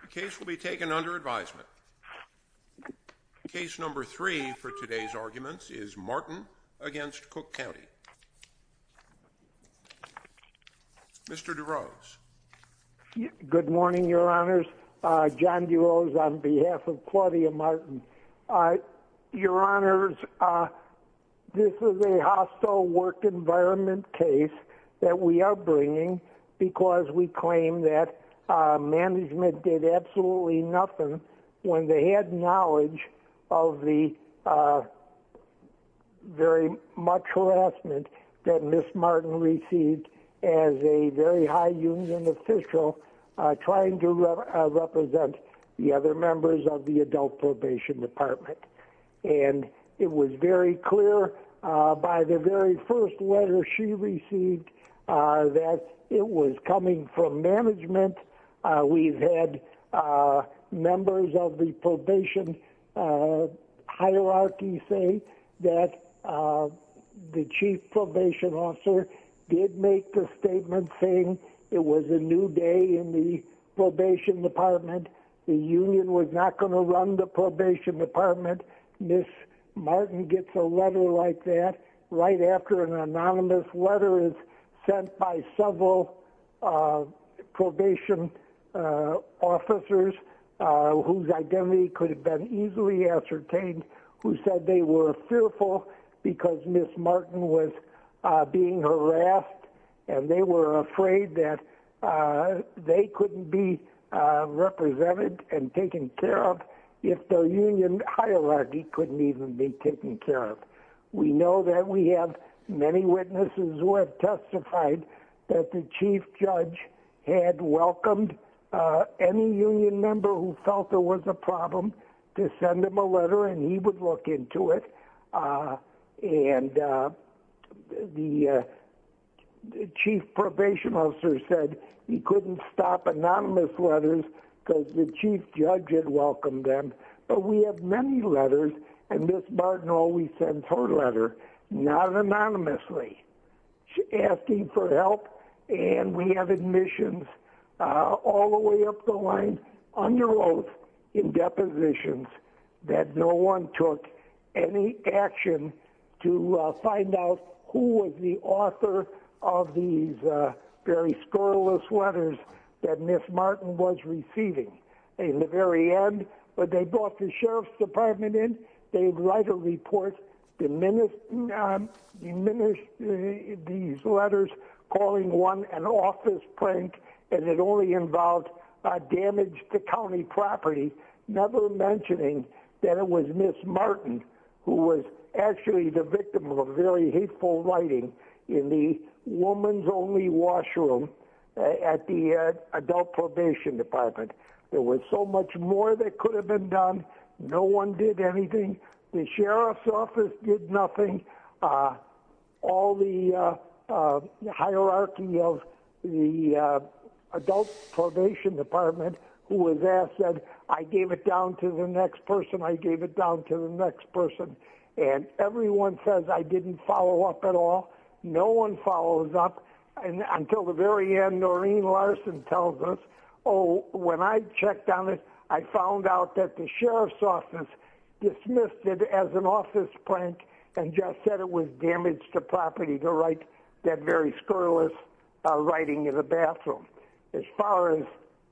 The case will be taken under advisement. Case number three for today's arguments is Martin v. Cook County. Mr. DeRose. Good morning, your honors. John DeRose on behalf of Claudia Martin. Your honors, this is a hostile work environment case that we are bringing because we claim that management did absolutely nothing when they had knowledge of the very much harassment that Ms. Martin received as a very high union official trying to represent the other members of the adult probation department. And it was very clear by the very first letter she received that it was coming from management. We've had members of the probation hierarchy say that the chief probation officer did make the statement saying it was a new day in the probation department. The union was not going to run the probation department. Ms. Martin gets a letter like that right after an anonymous letter is sent by several probation officers whose identity could have been easily ascertained who said they were fearful because Ms. Martin was being harassed and they were afraid that they couldn't be represented and taken care of if their union hierarchy couldn't even be taken care of. We know that we have many witnesses who have testified that the chief judge had welcomed any union member who felt there was a problem to send him a letter and he would look into it and the chief probation officer said he couldn't stop anonymous letters because the chief judge had welcomed them but we have many letters and Ms. Martin always sends her letter not anonymously asking for help and we have admissions all the way up the line under oath in depositions that no one took any action to find out who was the author of these very scurrilous letters that Ms. Martin was receiving in the very end but they brought the sheriff's department in, they'd write a report, diminish these letters calling one an office prank and it only involved damage to county property never mentioning that it was Ms. Martin who was actually the victim of very hateful writing in the woman's only washroom at the adult probation department. There was so much more that could have been done, no one did anything, the sheriff's office did nothing, all the hierarchy of the adult probation department who was asked said I gave it down to the next person, I gave it down to the next person and everyone says I didn't follow up at all, no one follows up and until the very end Noreen Larson tells us oh when I checked on it I found out that the sheriff's office dismissed it as an office prank and just said it was damage to property to write that very scurrilous writing in the bathroom. As far as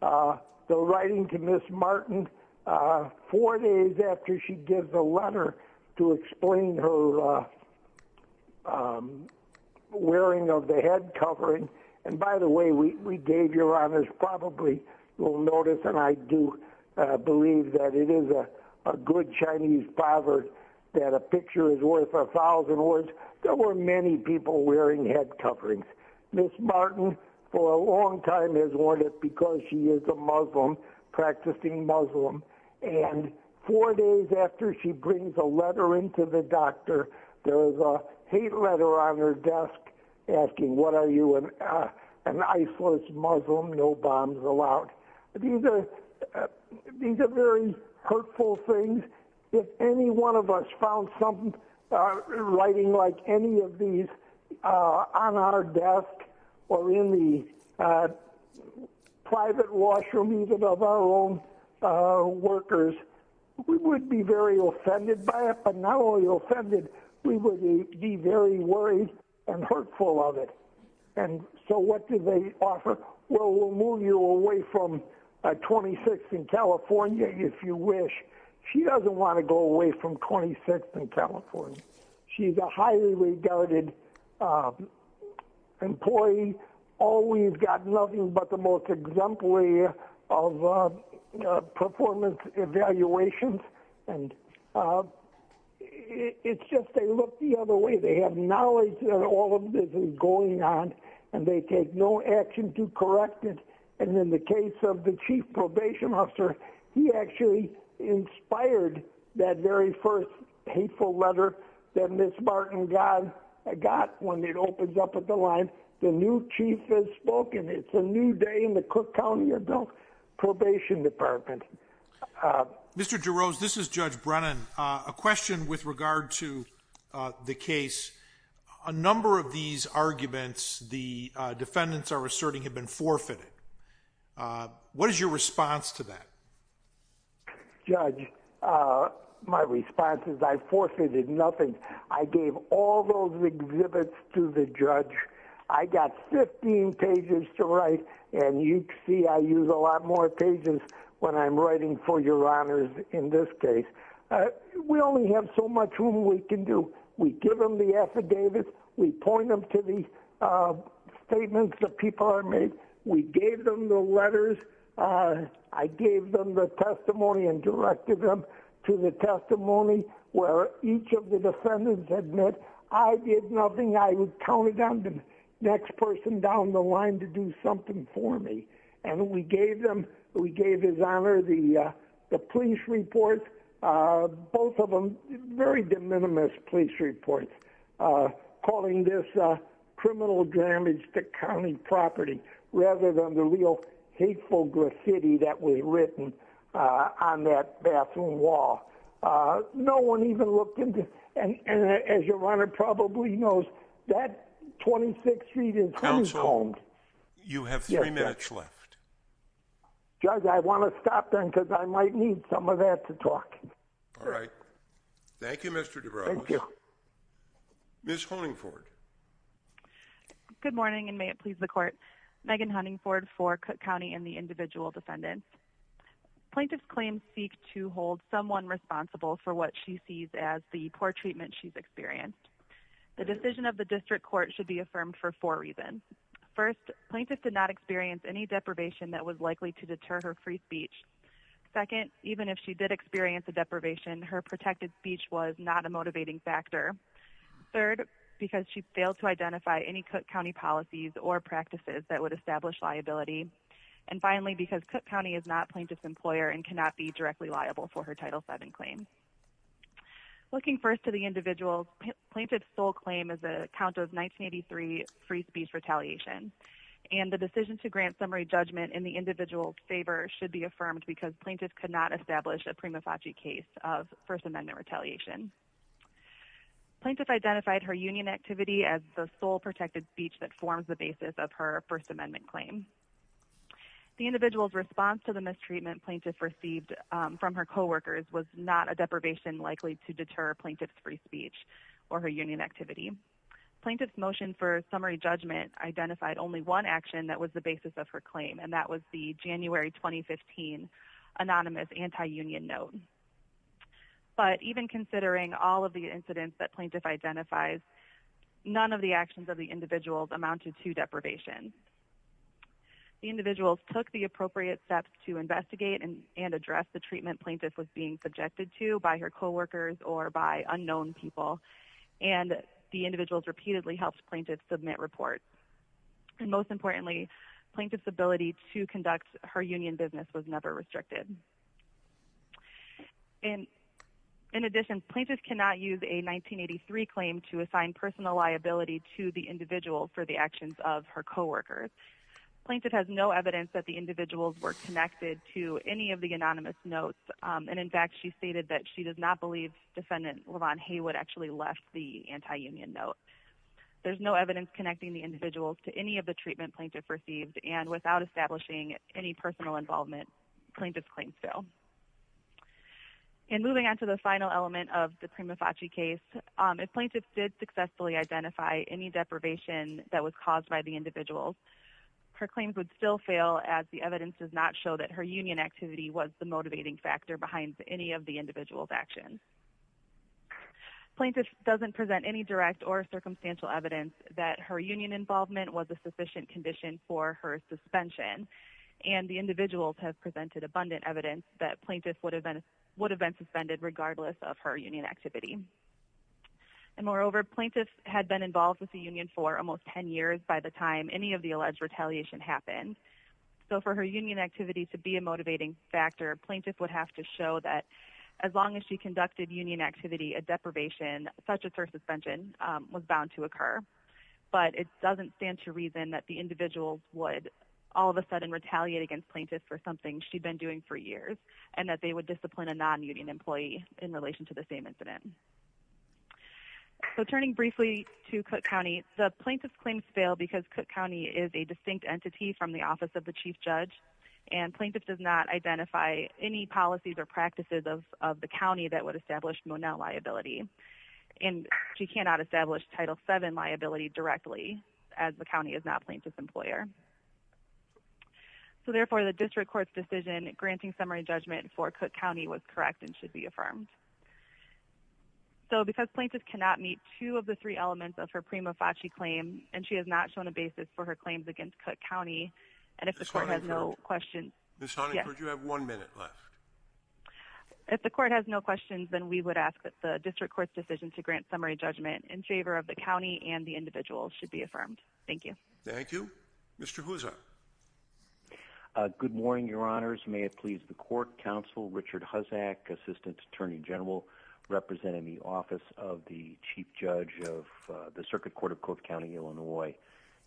the writing to Ms. Martin four days after she gives a letter to explain her wearing of the head covering and by the way we gave your honors probably will notice and I do believe that it is a good Chinese proverb that a picture is worth a thousand words there were many people wearing head coverings. Ms. Martin for a long time has worn it because she is a Muslim practicing Muslim and four days after she brings a letter into the these are these are very hurtful things if any one of us found something writing like any of these on our desk or in the private washroom even of our own workers we would be very offended by it but not only offended we would be very worried and hurtful of it and so what do they offer well move you away from 26th and California if you wish she doesn't want to go away from 26th and California she's a highly regarded employee always got nothing but the most exemplary of performance evaluations and it's just they look the other way they have knowledge that all and in the case of the chief probation officer he actually inspired that very first hateful letter that Ms. Martin got when it opens up at the line the new chief has spoken it's a new day in the Cook County adult probation department. Mr. Jarosz this is Judge Brennan a question with regard to the case a number of these arguments the defendants are asserting have been forfeited what is your response to that? Judge my response is I forfeited nothing I gave all those exhibits to the judge I got 15 pages to write and you see I use a lot more pages when I'm writing for your honors in this case we only have so much room we can do we give them the we gave them the letters I gave them the testimony and directed them to the testimony where each of the defendants admit I did nothing I counted on the next person down the line to do something for me and we gave them we gave his honor the the police report both of them very de minimis police uh calling this uh criminal damage to county property rather than the real hateful graffiti that was written uh on that bathroom wall uh no one even looked into and as your honor probably knows that 26 feet is home you have three minutes left judge I want to stop then because I might need some of that to talk all right thank you Mr. Dubrovnik. Thank you. Ms. Honingford. Good morning and may it please the court Megan Honingford for Cook County and the individual defendant. Plaintiff's claims seek to hold someone responsible for what she sees as the poor treatment she's experienced. The decision of the district court should be affirmed for four reasons. First plaintiff did not experience any deprivation that was likely to deter her free speech. Second even if she did experience a deprivation her protected speech was not a motivating factor. Third because she failed to identify any Cook County policies or practices that would establish liability. And finally because Cook County is not plaintiff's employer and cannot be directly liable for her title 7 claim. Looking first to the individual plaintiff's sole claim is a count of 1983 free speech retaliation and the decision to grant summary judgment in the individual's favor should be affirmed because plaintiff could not establish a prima facie case of first amendment retaliation. Plaintiff identified her union activity as the sole protected speech that forms the basis of her first amendment claim. The individual's response to the mistreatment plaintiff received from her co-workers was not a deprivation likely to deter plaintiff's free speech or her union activity. Plaintiff's motion for summary judgment identified only one action that was the basis of her claim and that was the January 2015 anonymous anti-union note. But even considering all of the incidents that plaintiff identifies none of the actions of the individuals amounted to deprivation. The individuals took the appropriate steps to investigate and address the treatment plaintiff was being subjected to by her co-workers or by most importantly plaintiff's ability to conduct her union business was never restricted. And in addition plaintiff cannot use a 1983 claim to assign personal liability to the individual for the actions of her co-workers. Plaintiff has no evidence that the individuals were connected to any of the anonymous notes and in fact she stated that she does not believe defendant LeVon Haywood actually left the anti-union note. There's no evidence connecting the individuals to any of the treatment plaintiff received and without establishing any personal involvement plaintiff's claims fail. And moving on to the final element of the Prima Facie case if plaintiff did successfully identify any deprivation that was caused by the individuals her claims would still fail as the evidence does not show that her union activity was the motivating factor behind any of the individuals actions. Plaintiff doesn't present any direct or circumstantial evidence that her union involvement was a sufficient condition for her suspension and the individuals have presented abundant evidence that plaintiff would have been would have been suspended regardless of her union activity. And moreover plaintiff had been involved with the union for almost 10 years by the time any of the alleged retaliation happened. So for her union activity to be a motivating factor plaintiff would have to show that as long as she conducted union activity a deprivation such as her suspension was bound to occur. But it doesn't stand to reason that the individuals would all of a sudden retaliate against plaintiff for something she'd been doing for years and that they would discipline a non-union employee in relation to the same incident. So turning briefly to Cook County the plaintiff's claims fail because Cook County is a distinct entity from the office of the chief judge and plaintiff does not identify any policies or practices of of the county that would establish liability. And she cannot establish title 7 liability directly as the county is not plaintiff's employer. So therefore the district court's decision granting summary judgment for Cook County was correct and should be affirmed. So because plaintiff cannot meet two of the three elements of her prima facie claim and she has not shown a basis for her claims against Cook County and if the court has no questions. Ms. Honeyford you have one minute left. If the court has no questions then we would ask that the district court's decision to grant summary judgment in favor of the county and the individual should be affirmed. Thank you. Thank you. Mr. Huzza. Good morning your honors. May it please the court counsel Richard Huzzack assistant attorney general representing the office of the chief judge of the circuit court of Cook County Illinois.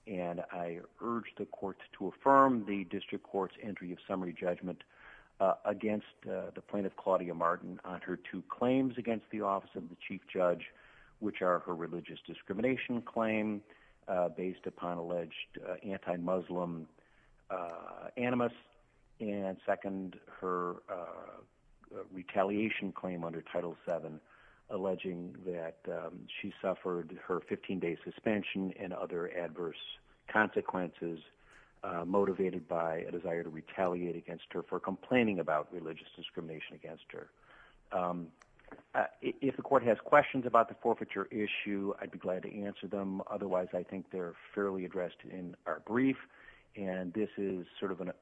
And I urge the courts to affirm the district court's entry of summary judgment against the plaintiff Claudia Martin on her two claims against the office of the chief judge which are her religious discrimination claim based upon alleged anti-Muslim animus and second her retaliation claim under title 7 alleging that she suffered her 15 day suspension and other adverse consequences motivated by a desire to complain about religious discrimination against her. If the court has questions about the forfeiture issue I'd be glad to answer them otherwise I think they're fairly addressed in our brief and this is sort of a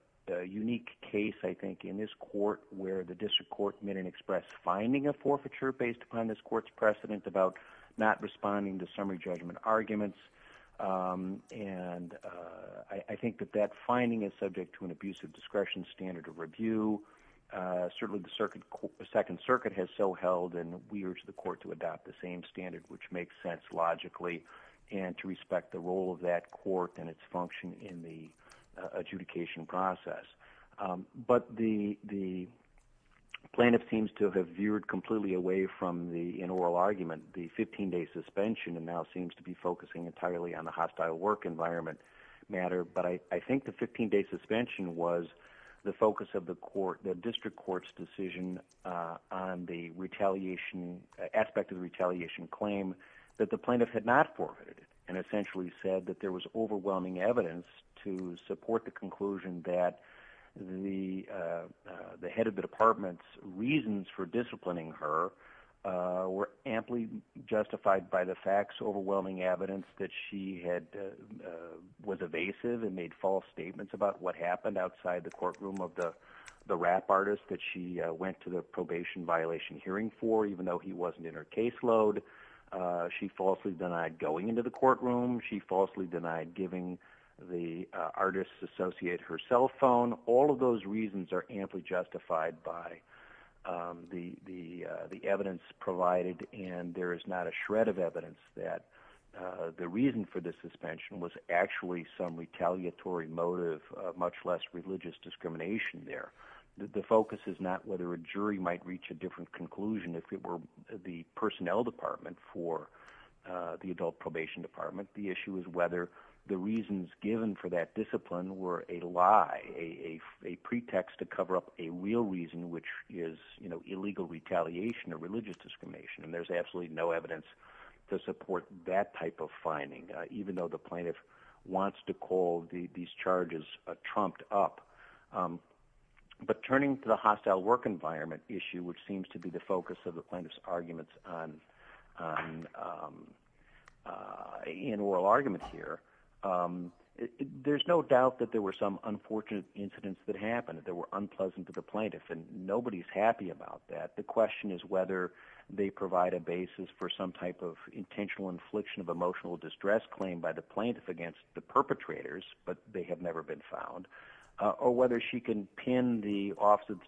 unique case I think in this court where the district court made an express finding a forfeiture based upon this court's precedent about not responding to summary judgment arguments and I think that that finding is subject to an abuse of discretion standard of review certainly the circuit second circuit has so held and we urge the court to adopt the same standard which makes sense logically and to respect the role of that court and its function in the adjudication process. But the the plaintiff seems to have veered completely away from the in oral argument the 15 day suspension and now seems to be focusing entirely on the hostile work environment matter but I think the 15 day suspension was the focus of the court the district court's decision on the retaliation aspect of the retaliation claim that the plaintiff had not forfeited and essentially said that there was overwhelming evidence to support the conclusion that the the head of the department's reasons for disciplining her were amply justified by the facts overwhelming evidence that she had was evasive and made false statements about what happened outside the courtroom of the the rap artist that she went to the probation violation hearing for even though he wasn't in her caseload she falsely denied going into the courtroom she artists associate her cell phone all of those reasons are amply justified by the the the evidence provided and there is not a shred of evidence that the reason for the suspension was actually some retaliatory motive much less religious discrimination there the focus is not whether a jury might reach a different conclusion if it were the personnel department for the adult probation department the issue is whether the reasons given for that discipline were a lie a a pretext to cover up a real reason which is you know illegal retaliation or religious discrimination and there's absolutely no evidence to support that type of finding even though the plaintiff wants to call the these charges trumped up but turning to the hostile work environment issue which seems to be the focus of the plaintiff's arguments on um uh in oral arguments here um there's no doubt that there were some unfortunate incidents that happened that were unpleasant to the plaintiff and nobody's happy about that the question is whether they provide a basis for some type of intentional infliction of emotional distress claim by the plaintiff against the perpetrators but they have never been found uh or whether she can pin the office of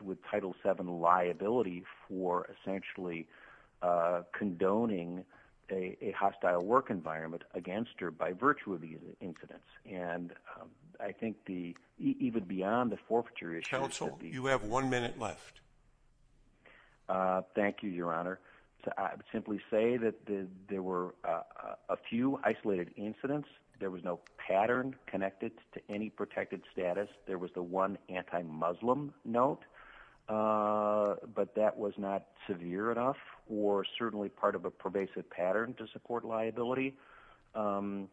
the title seven liability for essentially uh condoning a a hostile work environment against her by virtue of these incidents and um i think the even beyond the forfeiture council you have one minute left uh thank you your honor to simply say that there were a few isolated incidents there was no pattern connected to any protected status there was the one anti-muslim note uh but that was not severe enough or certainly part of a pervasive pattern to support liability um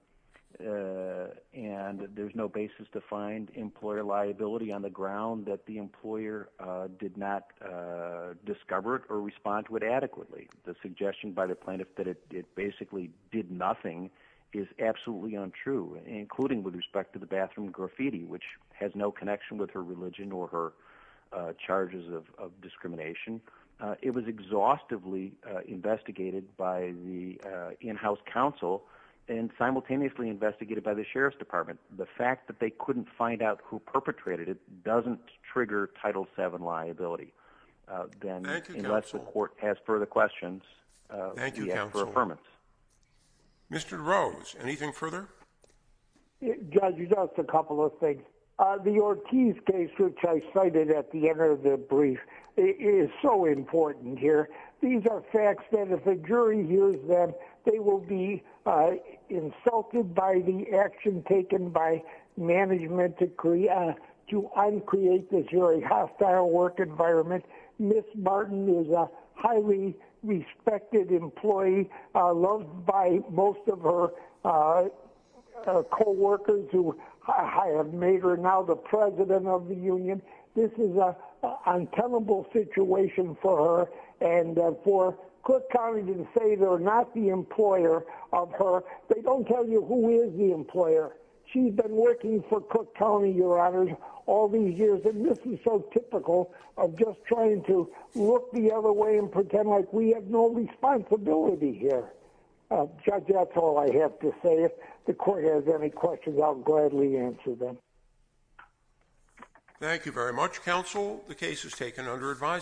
and there's no basis to find employer liability on the ground that the employer uh did not uh discover it or respond to it adequately the suggestion by the plaintiff that it basically did nothing is absolutely untrue including with respect to the bathroom graffiti which has no connection with her religion or her charges of discrimination it was exhaustively investigated by the in-house council and simultaneously investigated by the sheriff's department the fact that they couldn't find out who perpetrated it doesn't trigger title seven liability uh then unless the court has further questions uh thank you for affirmance mr rose anything further judge just a couple of things uh the ortiz case which i cited at the end of the brief is so important here these are facts that if the jury hears them they will be uh insulted by the action taken by management decree uh to uncreate this very hostile work environment miss martin is a highly respected employee uh loved by most of her uh co-workers who i have made her now the president of the union this is a untenable situation for her and for cook county didn't say they're not the employer of her they don't tell you who is the employer she's been working for cook county your honors all these years and this is so typical of just trying to look the other way and pretend like we have no responsibility here judge that's all i have to say if the court has any questions i'll gladly answer them thank you very much counsel the case is taken under advisement